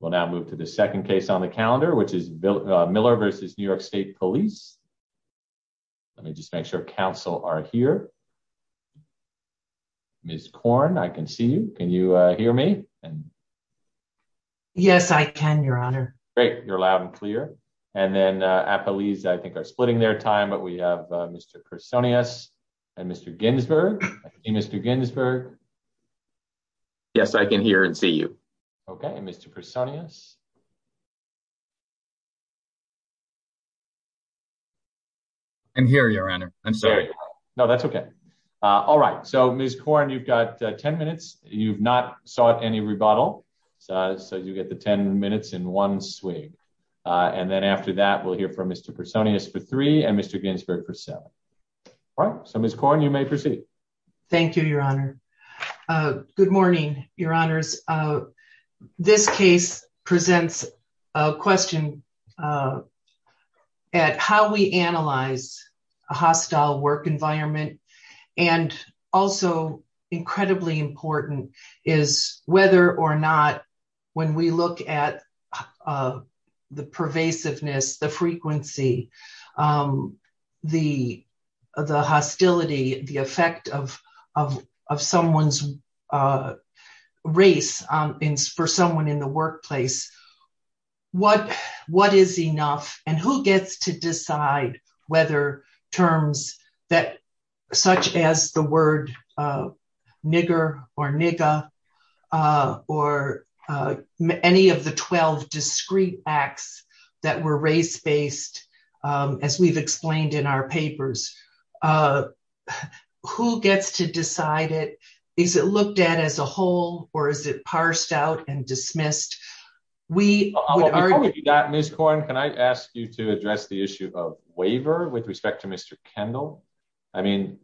We'll now move to the second case on the calendar which is Miller v. New York State Police. Let me just make sure council are here. Ms. Korn, I can see you. Can you hear me? Yes, I can, your honor. Great, you're loud and clear. And then Appalese I think are splitting their time, but we have Mr. Kersonius and Mr. Ginsberg. Mr. Ginsberg. Yes, I can hear and see you. Okay, Mr. Kersonius. I'm here, your honor. I'm sorry. No, that's okay. All right, so Ms. Korn, you've got 10 minutes. You've not sought any rebuttal, so you get the 10 minutes in one swing. And then after that, we'll hear from Mr. Kersonius for three and Mr. Ginsberg for seven. All right, so Ms. Korn, you may proceed. Thank you, your honor. Good morning, your honors. This case presents a question at how we analyze a hostile work environment. And also incredibly important is whether or not when we look at the pervasiveness, the frequency, the hostility, the effect of someone's race for someone in the workplace, what is enough and who gets to decide whether terms such as the any of the 12 discrete acts that were race-based as we've explained in our papers, who gets to decide it? Is it looked at as a whole or is it parsed out and dismissed? Ms. Korn, can I ask you to address the issue of waiver with respect to Mr. Kendall? I mean,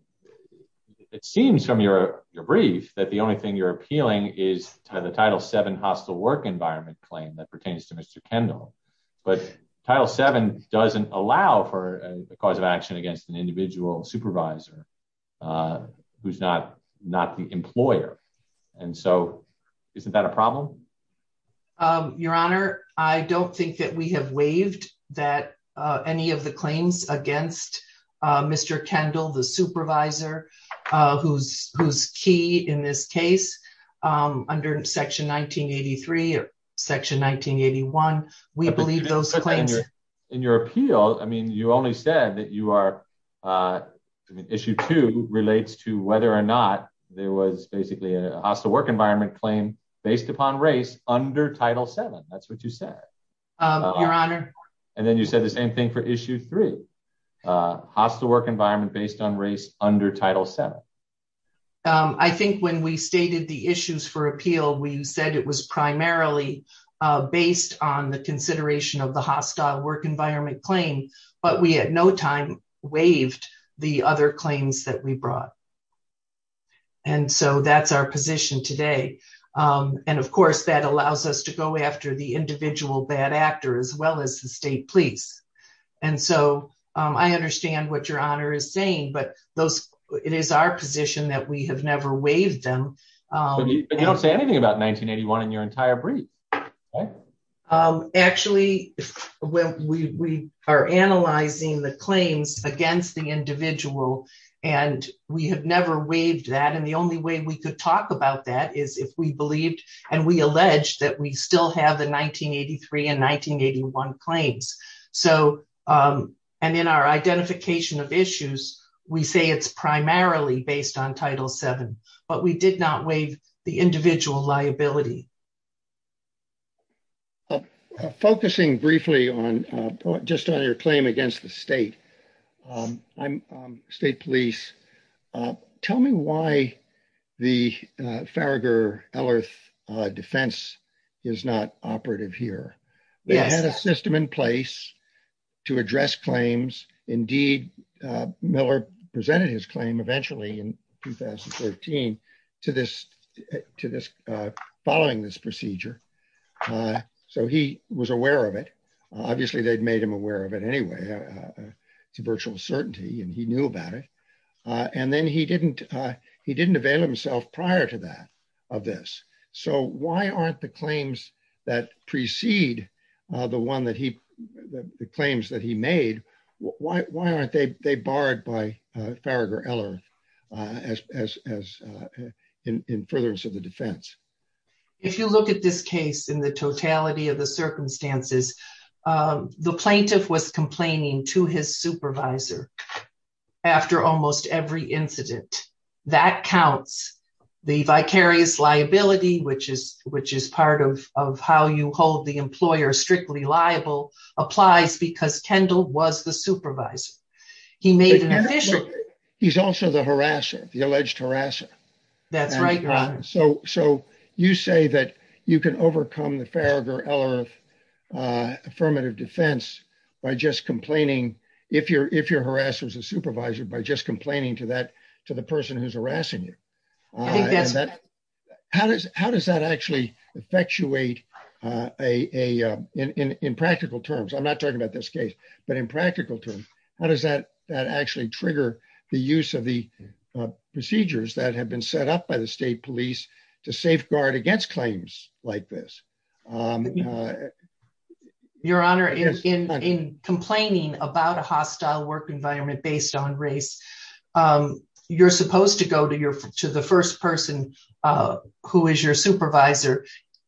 it seems from your brief that the only thing you're appealing is to the Title VII hostile work environment claim that pertains to Mr. Kendall, but Title VII doesn't allow for a cause of action against an individual supervisor who's not the employer. And so isn't that a problem? Your honor, I don't think that we have waived that any of the claims against Mr. Kendall, the supervisor, who's key in this case under Section 1983 or Section 1981. We believe those claims- In your appeal, I mean, you only said that you are, I mean, issue two relates to whether or not there was basically a hostile work environment claim based upon race under Title VII. That's what you said. Your honor. And then you said the same thing for issue three, hostile work environment based on race under Title VII. I think when we stated the issues for appeal, we said it was primarily based on the consideration of the hostile work environment claim, but we at no time waived the other claims that we brought. And so that's our position today. And of course, that allows us to go after the individual bad actor as well as the police. And so I understand what your honor is saying, but it is our position that we have never waived them. But you don't say anything about 1981 in your entire brief. Actually, we are analyzing the claims against the individual and we have never waived that. And the only way we could talk about that is if we believed and we alleged that we still have the 1983 and 1981 claims. So, and in our identification of issues, we say it's primarily based on Title VII, but we did not waive the individual liability. Focusing briefly on just on your claim against the state, state police, tell me why the Farragher-Ellerth defense is not operative here. We had a system in place to address claims. Indeed, Miller presented his claim eventually in 2013 to this following this procedure. So he was aware of it. Obviously they'd made him aware of anyway to virtual certainty and he knew about it. And then he didn't avail himself prior to that of this. So why aren't the claims that precede the one that he, the claims that he made, why aren't they barred by Farragher-Ellerth as in furtherance of the defense? If you look at this case in the totality of the circumstances, the plaintiff was complaining to his supervisor after almost every incident. That counts. The vicarious liability, which is part of how you hold the employer strictly liable, applies because Kendall was the supervisor. He's also the harasser, the alleged harasser. So you say that you can overcome the Farragher-Ellerth affirmative defense by just complaining, if you're harassed as a supervisor, by just complaining to that, to the person who's harassing you. How does that actually effectuate in practical terms? I'm not talking about this case, but in practical terms, how does that actually trigger the use of the procedures that have been set up by the state police to safeguard against claims like this? Your Honor, in complaining about a hostile work environment based on race, you're supposed to go to the first person who is your supervisor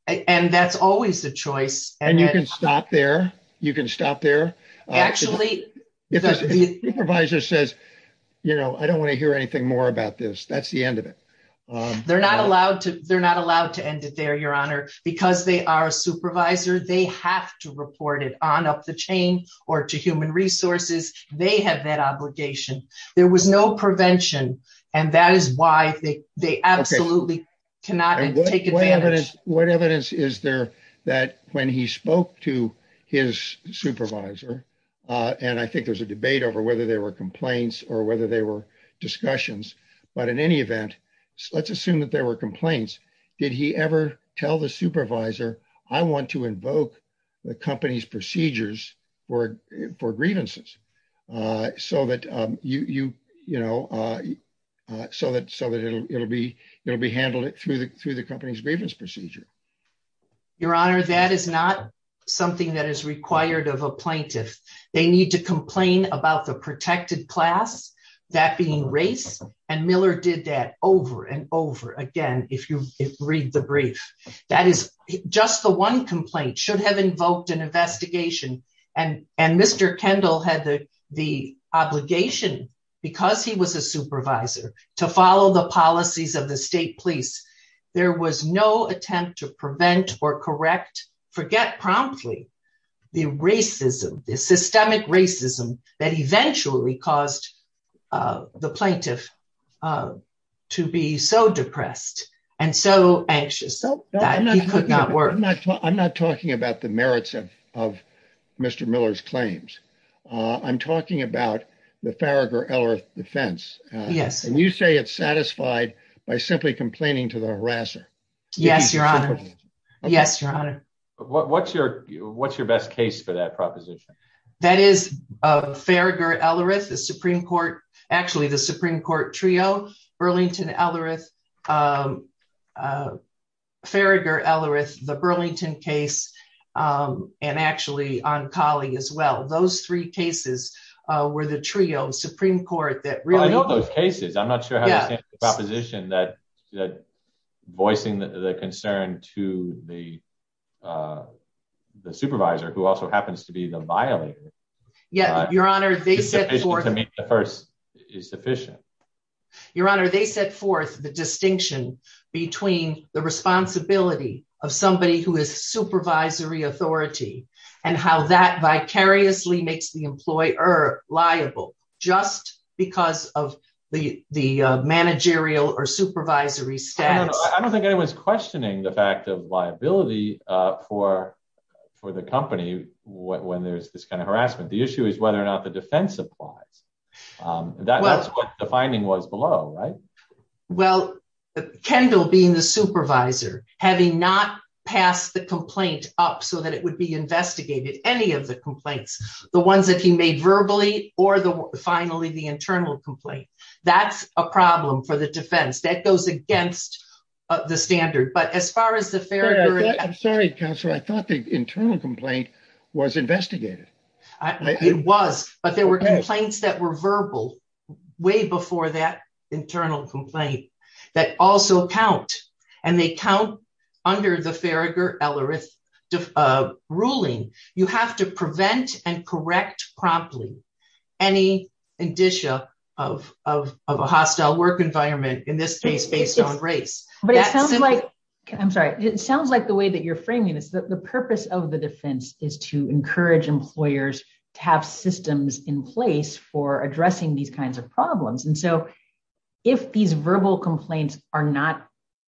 and that's always the choice. And you can stop there. You can stop there. Actually, if the supervisor says, you know, I don't want to hear anything more about this, that's the end of it. They're not allowed to end it there, Your Honor, because they are a supervisor, they have to report it on up the chain or to human resources. They have that obligation. There was no prevention and that is why they absolutely cannot take advantage. What evidence is there that when he spoke to his supervisor, and I think there's a debate over whether there were complaints or whether they were discussions, but in any event, let's assume that there were complaints. Did he ever tell the supervisor, I want to invoke the company's procedures for grievances so that you, you know, so that it'll be handled through the company's grievance procedure? Your Honor, that is not something that is required of a plaintiff. They need to complain about the protected class, that being race, and Miller did that over and over again, if you read the brief. That is just the one complaint should have invoked an investigation and, and Mr. Kendall had the, the obligation because he was a supervisor to follow the policies of the state police. There was no attempt to prevent or correct, forget promptly, the racism, the systemic racism that eventually caused the plaintiff to be so depressed and so Mr. Miller's claims. I'm talking about the Farragher-Ellerith defense. Yes. And you say it's satisfied by simply complaining to the harasser. Yes, Your Honor. Yes, Your Honor. What, what's your, what's your best case for that proposition? That is Farragher-Ellerith, the Supreme Court, actually the Supreme Court trio, Burlington-Ellerith, um, uh, Farragher-Ellerith, the Burlington case, um, and actually on Colley as well, those three cases, uh, were the trio Supreme Court that really... I know those cases, I'm not sure how that proposition that, that voicing the concern to the, uh, the supervisor, who also happens to be the violator. Yeah, Your Honor, they set forth... The first is sufficient. Your Honor, they set forth the distinction between the responsibility of somebody who is supervisory authority and how that vicariously makes the employer liable just because of the, the, uh, managerial or supervisory status. I don't think anyone's questioning the fact of liability, uh, for, for the company when there's this kind of harassment. The issue is whether or not the was below, right? Well, Kendall being the supervisor, having not passed the complaint up so that it would be investigated, any of the complaints, the ones that he made verbally or the, finally, the internal complaint, that's a problem for the defense. That goes against the standard, but as far as the Farragher... I'm sorry, Counselor, I thought the internal complaint was investigated. It was, but there were complaints that were verbal way before that internal complaint that also count and they count under the Farragher-Ellerith, uh, ruling. You have to prevent and correct promptly any indicia of, of, of a hostile work environment in this case based on race. But it sounds like, I'm sorry, it sounds like the way that you're is to encourage employers to have systems in place for addressing these kinds of problems. And so if these verbal complaints are not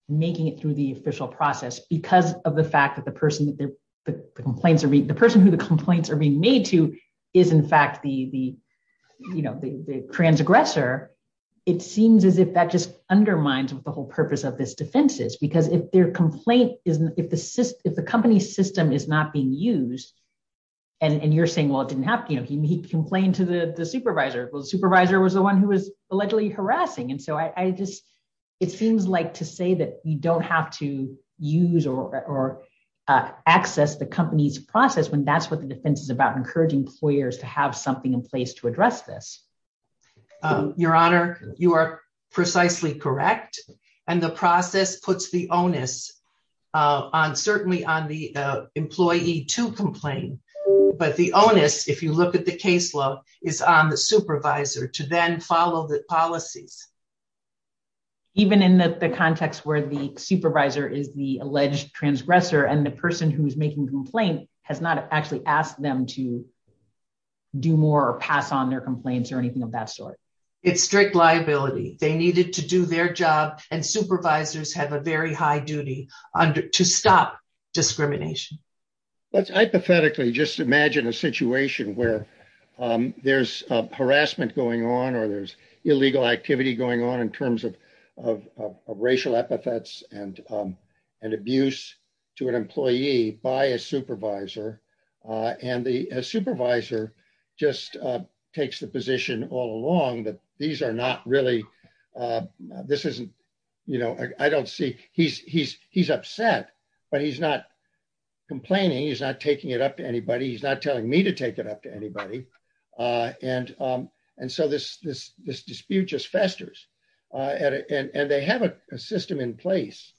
making it through the official process because of the fact that the person that the complaints are being, the person who the complaints are being made to is in fact the, the, you know, the transgressor, it seems as if that just undermines what the whole purpose of this defense is. Because if their complaint isn't, if the system, is not being used and, and you're saying, well, it didn't happen, you know, he complained to the, the supervisor. Well, the supervisor was the one who was allegedly harassing. And so I, I just, it seems like to say that you don't have to use or, or, uh, access the company's process when that's what the defense is about, encouraging employers to have something in place to address this. Um, Your Honor, you are precisely correct. And the process puts the onus, uh, on certainly on the, uh, employee to complain, but the onus, if you look at the case law is on the supervisor to then follow the policies. Even in the context where the supervisor is the alleged transgressor and the person who's making complaint has not actually asked them to do more or pass on their complaints or anything of that sort. It's strict liability. They needed to do their job and stop discrimination. Let's hypothetically just imagine a situation where, um, there's harassment going on or there's illegal activity going on in terms of, of, of racial epithets and, um, and abuse to an employee by a supervisor. Uh, and the supervisor just, uh, takes the position all along that these are not really, uh, this isn't, you know, I don't see he's, he's, he's upset, but he's not complaining. He's not taking it up to anybody. He's not telling me to take it up to anybody. Uh, and, um, and so this, this, this dispute just festers, uh, and, and, and they have a system in place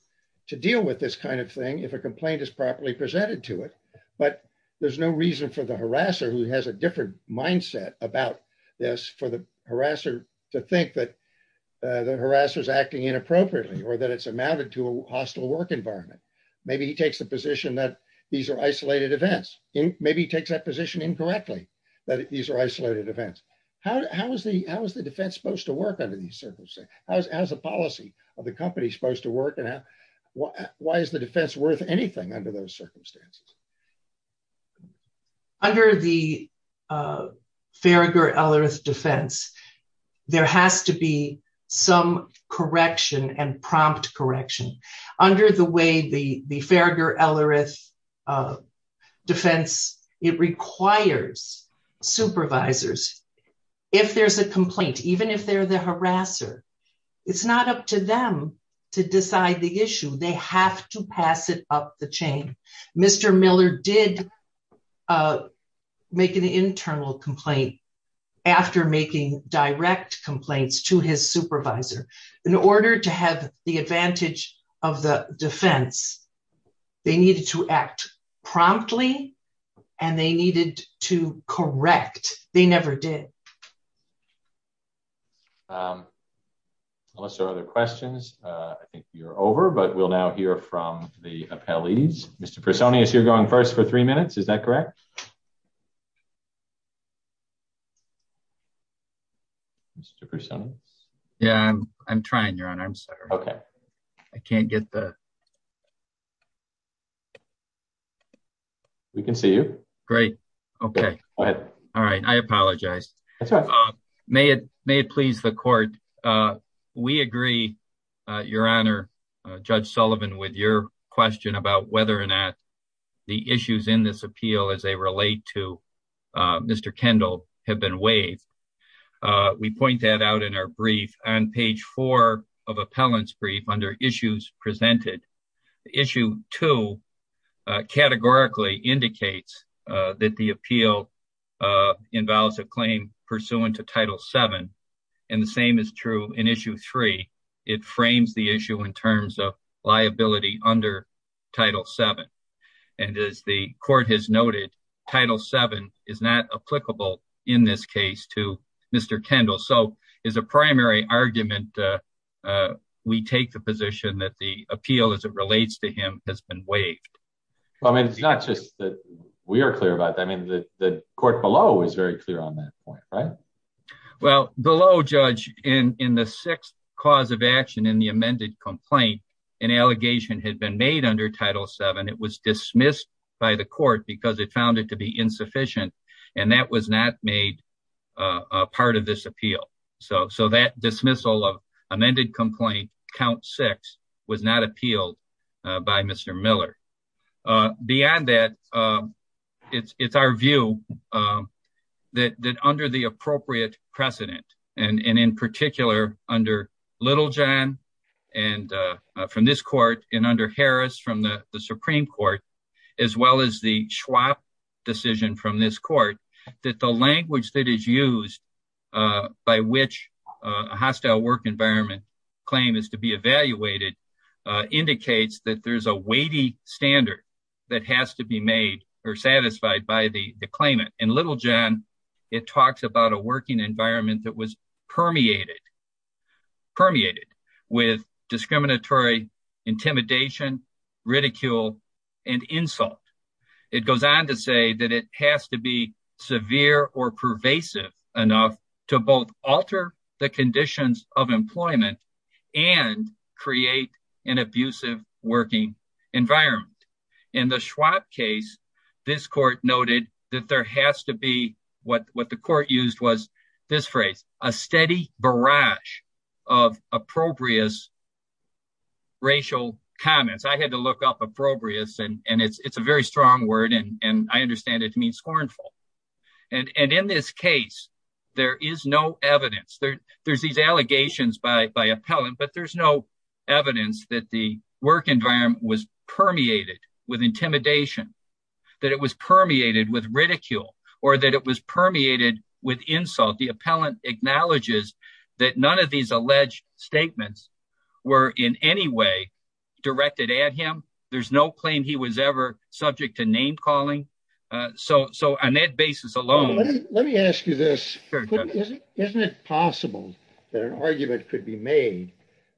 to deal with this kind of thing. If a complaint is properly presented to it, but there's no reason for the harasser who has a different mindset about this for the harasser to think that, uh, the harasser is acting inappropriately or that it's amounted to a hostile work environment. Maybe he takes the position that these are isolated events. Maybe he takes that position incorrectly that these are isolated events. How, how has the, how has the defense supposed to work under these circumstances? How's, how's the policy of the company supposed to work and how, why is the defense worth anything under those circumstances? Under the, uh, Farragher-Ellerith defense, there has to be some correction and prompt correction under the way the, the Farragher-Ellerith, uh, defense, it requires supervisors. If there's a have to pass it up the chain, Mr. Miller did, uh, make an internal complaint after making direct complaints to his supervisor in order to have the advantage of the defense. They needed to act promptly and they needed to correct. They never did. Um, unless there are other questions, uh, I think you're over, but we'll now hear from the appellees. Mr. Personius, you're going first for three minutes. Is that correct? Mr. Personius. Yeah, I'm, I'm trying your honor. I'm sorry. Okay. I can't get the, we can see you. Great. Okay. All right. I apologize. May it, may it please the court. Uh, we agree, uh, your honor, uh, judge Sullivan with your question about whether or not the issues in this appeal as they relate to, uh, Mr. Kendall have been waived. Uh, we point that out in our brief on page four of appellants brief under issues presented issue two, uh, categorically indicates, uh, that the appeal, uh, involves a claim pursuant to title seven. And the same is true in issue three, it frames the issue in terms of liability under title seven. And as the court has noted, title seven is not applicable in this case to Mr. Kendall. So the primary argument, uh, uh, we take the position that the appeal as it relates to him has been waived. Well, I mean, it's not just that we are clear about that. I mean, the court below is very clear on that point, right? Well, the low judge in, in the sixth cause of action in the amended complaint, an allegation had been made under title seven. It was dismissed by the court because it found it to be insufficient. And that was not made a part of this appeal. So, so that dismissal of amended complaint count six was not appealed by Mr. Miller. Uh, beyond that, um, it's, it's our view, um, that, that under the appropriate precedent and, and in particular under little and, uh, uh, from this court and under Harris from the Supreme court, as well as the Schwab decision from this court, that the language that is used, uh, by which a hostile work environment claim is to be evaluated, uh, indicates that there's a weighty standard that has to be made or satisfied by the claimant and little John, it talks about a working environment that was with discriminatory intimidation, ridicule, and insult. It goes on to say that it has to be severe or pervasive enough to both alter the conditions of employment and create an abusive working environment. And the Schwab case, this court noted that there has to be what, what the appropriate racial comments. I had to look up appropriate and it's, it's a very strong word. And I understand it to mean scornful. And, and in this case, there is no evidence there there's these allegations by, by appellant, but there's no evidence that the work environment was permeated with intimidation, that it was permeated with ridicule or that it was permeated with insult. The appellant acknowledges that none of these alleged statements were in any way directed at him. There's no claim he was ever subject to name calling. Uh, so, so on that basis alone, let me ask you this, isn't it possible that an argument could be made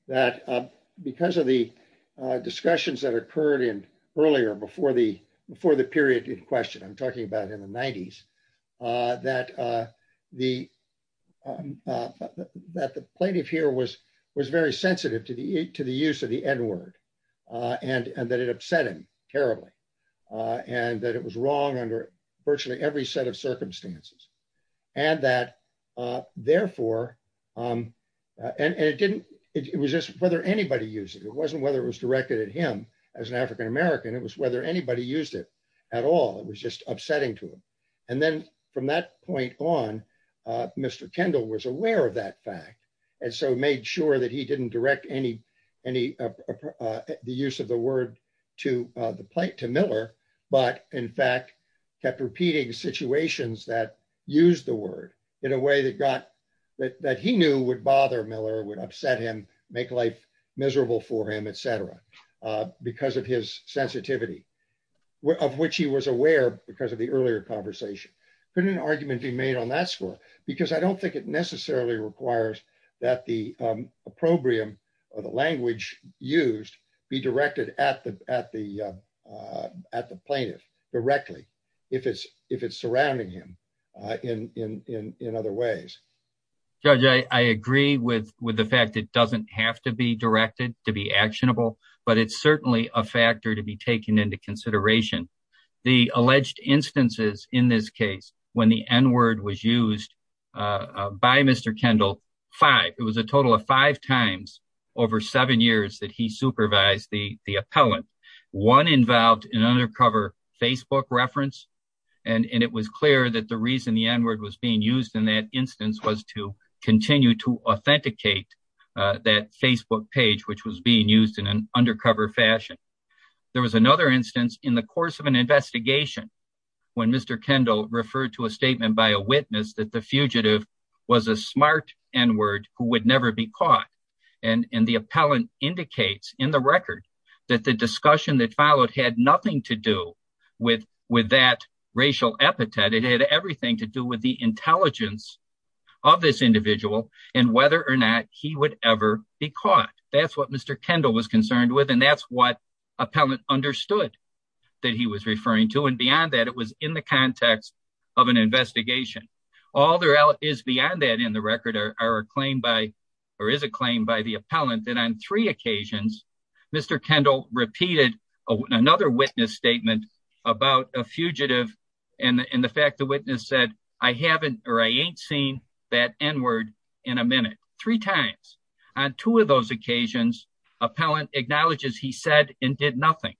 that, uh, because of the, uh, discussions that occurred in earlier before the, before the period in question, I'm talking about in the nineties, uh, that, uh, the, um, uh, that the plaintiff here was, was very sensitive to the, to the use of the N word, uh, and, and that it upset him terribly, uh, and that it was wrong under virtually every set of circumstances and that, uh, therefore, um, uh, and, and it didn't, it was just whether anybody used it. It wasn't whether it was directed at him as an African-American. It was whether anybody used it at all. It was just upsetting to him. And then from that point on, uh, Mr. Kendall was aware of that fact. And so made sure that he didn't direct any, any, uh, uh, the use of the word to, uh, the plate to Miller, but in fact, kept repeating situations that use the word in a way that got that, that he knew would bother Miller would upset him, make life miserable for him, et cetera, uh, because of his sensitivity of which he was aware because of the earlier conversation. Couldn't an argument be made on that score because I don't think it necessarily requires that the, um, a program or the language used be directed at the, at the, uh, uh, at the plaintiff directly if it's, if it's surrounding him, uh, in, in, in, in other ways. Judge, I agree with, with the fact that doesn't have to be directed to be actionable, but it's certainly a factor to be taken into consideration. The alleged instances in this case, when the N word was used, uh, by Mr. Kendall five, it was a total of five times over seven years that he supervised the, the appellant one involved in undercover Facebook reference. And it was clear that the reason the N word was being used in that instance was to continue to authenticate, uh, that Facebook page, which was being used in an undercover fashion. There was another instance in the course of an investigation. When Mr. Kendall referred to a statement by a witness that the fugitive was a smart N word who would never be caught. And the indicates in the record that the discussion that followed had nothing to do with, with that racial epithet. It had everything to do with the intelligence of this individual and whether or not he would ever be caught. That's what Mr. Kendall was concerned with. And that's what appellant understood that he was referring to. And beyond that, it was in the context of an investigation. All there is beyond that in the record are a claim by, or is a claim by the appellant that on three occasions, Mr. Kendall repeated another witness statement about a fugitive. And the fact the witness said I haven't, or I ain't seen that N word in a minute, three times on two of those occasions, appellant acknowledges he said and did nothing.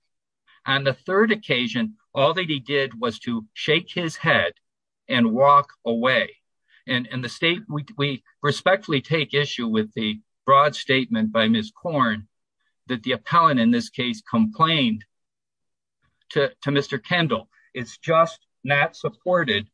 And the third occasion, all that he did was to shake his head and walk away. And, we respectfully take issue with the broad statement by Ms. Korn that the appellant in this case complained to Mr. Kendall. It's just not supported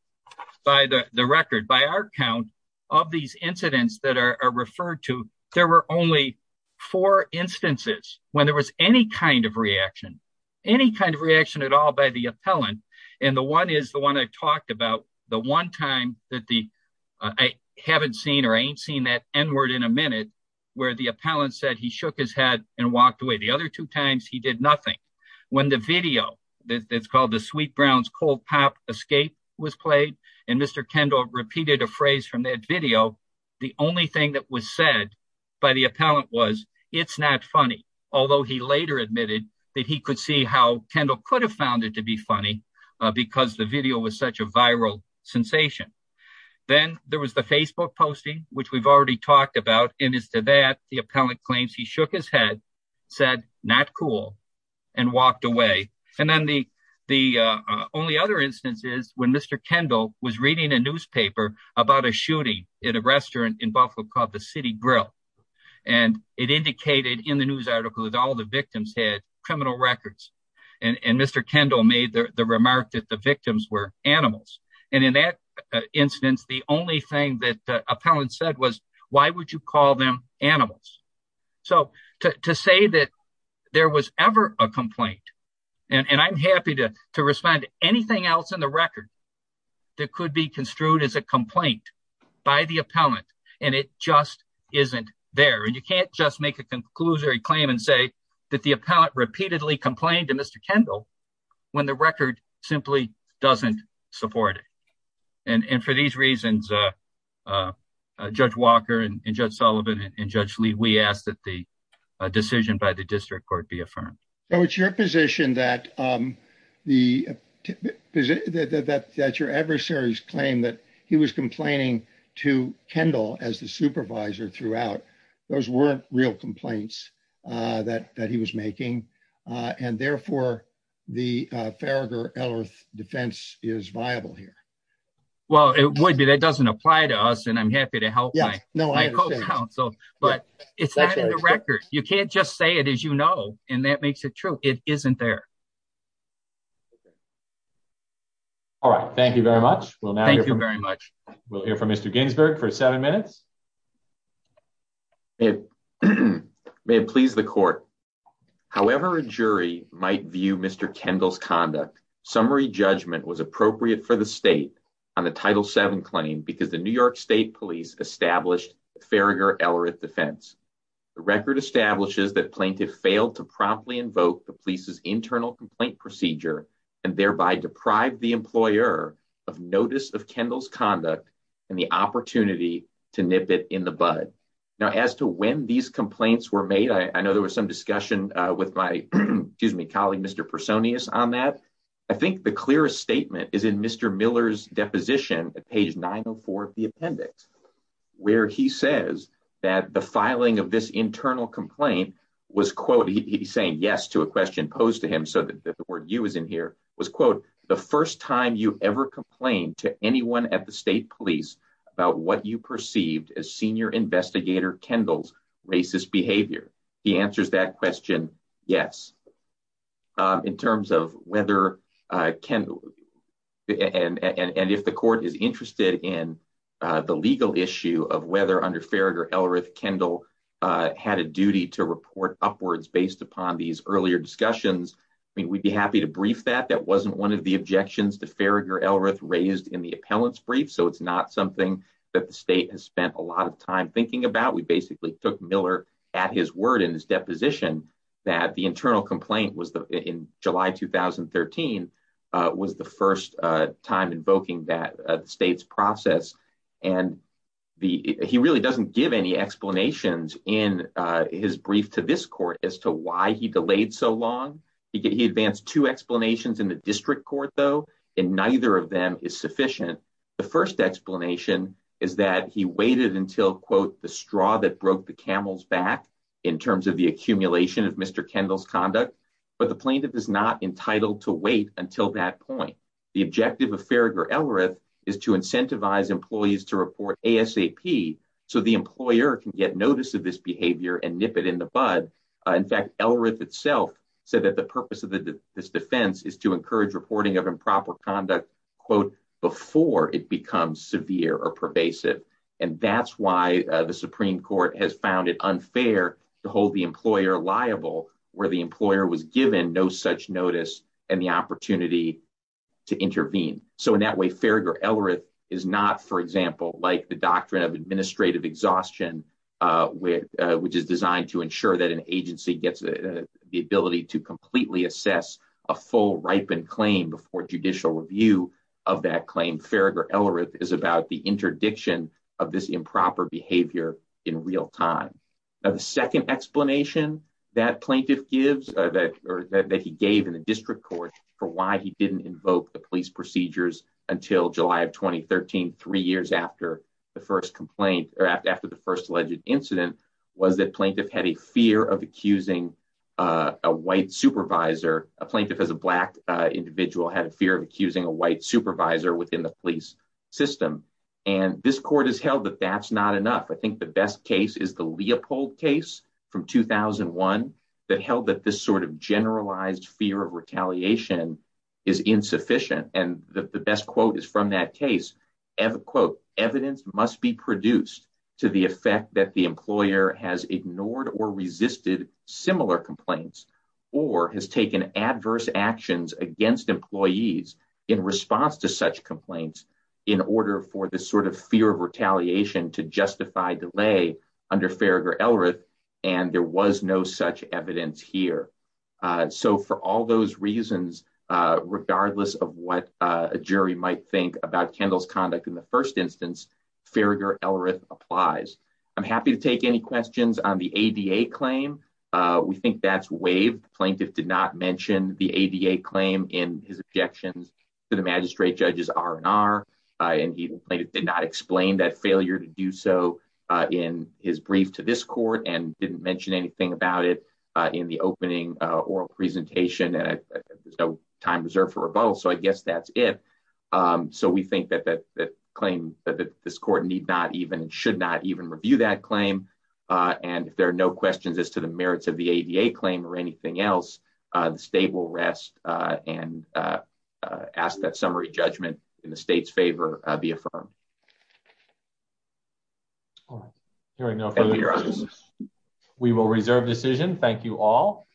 by the record. By our count of these incidents that are referred to, there were only four instances when there was any kind of reaction, any kind of reaction at all by the appellant. And the one is the one I talked about the one time that the, I haven't seen, or I ain't seen that N word in a minute, where the appellant said he shook his head and walked away. The other two times he did nothing. When the video that's called the Sweet Brown's Cold Pop Escape was played, and Mr. Kendall repeated a phrase from that video, the only thing that was said by the appellant was, it's not funny. Although he later admitted that he could see how Kendall could have found it to be funny because the video was such a viral sensation. Then there was the Facebook posting, which we've already talked about. And as to that, the appellant claims he shook his head, said, not cool, and walked away. And then the, the only other instance is when Mr. Kendall was reading a newspaper about a shooting in a restaurant in Buffalo called the City Grill. And it indicated in the news article that all the victims had criminal records. And Mr. Kendall made the remark that the victims were animals. And in that instance, the only thing that the appellant said was, why would you call them animals? So to say that there was ever a complaint, and I'm happy to respond to anything else in the record that could be construed as a complaint by the appellant, and it just isn't there. And you can't just make a conclusory claim and say that the appellant repeatedly complained to Mr. Kendall when the record simply doesn't support it. And for these reasons, Judge Walker and Judge Sullivan and Judge Lee, we ask that the decision by the district court be affirmed. So it's your position that your adversary's claim that he was complaining to Kendall as the supervisor throughout, those weren't real complaints that he was making. And therefore, the Farragher-Ellworth defense is viable here. Well, it would be. That doesn't apply to us, and I'm happy to help my co-counsel. But it's not in the record. You can't just say it as you know, and that makes it true. It isn't there. All right. Thank you very much. We'll now hear from Mr. Ginsburg for seven minutes. May it please the court. However a jury might view Mr. Kendall's conduct, summary judgment was appropriate for the state on the Title VII claim because the New York State Police established Farragher-Ellworth defense. The record establishes that plaintiff failed to promptly invoke the police's internal complaint procedure and thereby deprive the employer of notice of Kendall's in the bud. Now as to when these complaints were made, I know there was some discussion with my, excuse me, colleague, Mr. Personius on that. I think the clearest statement is in Mr. Miller's deposition at page 904 of the appendix, where he says that the filing of this internal complaint was, quote, he's saying yes to a question posed to him so that the word you is in here, was, quote, the first time you ever complained to anyone at the state police about what you perceived as senior investigator Kendall's racist behavior. He answers that question yes. In terms of whether Kendall, and if the court is interested in the legal issue of whether under Farragher-Ellworth Kendall had a duty to report upwards based upon these earlier discussions, I mean we'd be happy to brief that. That wasn't one of the objections to Farragher-Ellworth raised in the appellant's brief, so it's not something that the state has spent a lot of time thinking about. We basically took Miller at his word in his deposition that the internal complaint was the, in July 2013, was the first time invoking that state's process. And the, he really doesn't give any explanations in his brief to this court as to why he delayed so long. He advanced two explanations in the district court though, and neither of them is sufficient. The first explanation is that he waited until, quote, the straw that broke the camel's back in terms of the accumulation of Mr. Kendall's conduct, but the plaintiff is not entitled to wait until that point. The objective of and nip it in the bud. In fact, Ellworth itself said that the purpose of this defense is to encourage reporting of improper conduct, quote, before it becomes severe or pervasive. And that's why the Supreme Court has found it unfair to hold the employer liable where the employer was given no such notice and the opportunity to intervene. So in that way, Farragher-Ellworth is not, for which is designed to ensure that an agency gets the ability to completely assess a full ripened claim before judicial review of that claim. Farragher-Ellworth is about the interdiction of this improper behavior in real time. The second explanation that plaintiff gives that, or that he gave in the district court for why he didn't invoke the police procedures until July of 2013, three years after the first complaint or after the first alleged incident was that plaintiff had a fear of accusing a white supervisor, a plaintiff as a black individual had a fear of accusing a white supervisor within the police system. And this court has held that that's not enough. I think the best case is the Leopold case from 2001 that held that this sort of generalized fear of retaliation is insufficient. And the best quote is from that case, evidence must be produced to the effect that the employer has ignored or resisted similar complaints or has taken adverse actions against employees in response to such complaints in order for this sort of fear of retaliation to justify delay under Farragher-Ellworth. And there was no such evidence here. So for all those reasons, regardless of what a jury might think about Kendall's conduct in the first instance, Farragher-Ellworth applies. I'm happy to take any questions on the ADA claim. We think that's waived. Plaintiff did not mention the ADA claim in his objections to the magistrate judges R&R and he did not explain that failure to do so in his brief to this court and didn't mention anything about it in the opening oral presentation and there's no time reserved for rebuttal. So I guess that's it. So we think that claim that this court need not even, should not even review that claim. And if there are no questions as to the merits of the ADA claim or anything else, the state will rest and ask that summary judgment in the state's favor be affirmed. We will reserve decision. Thank you all.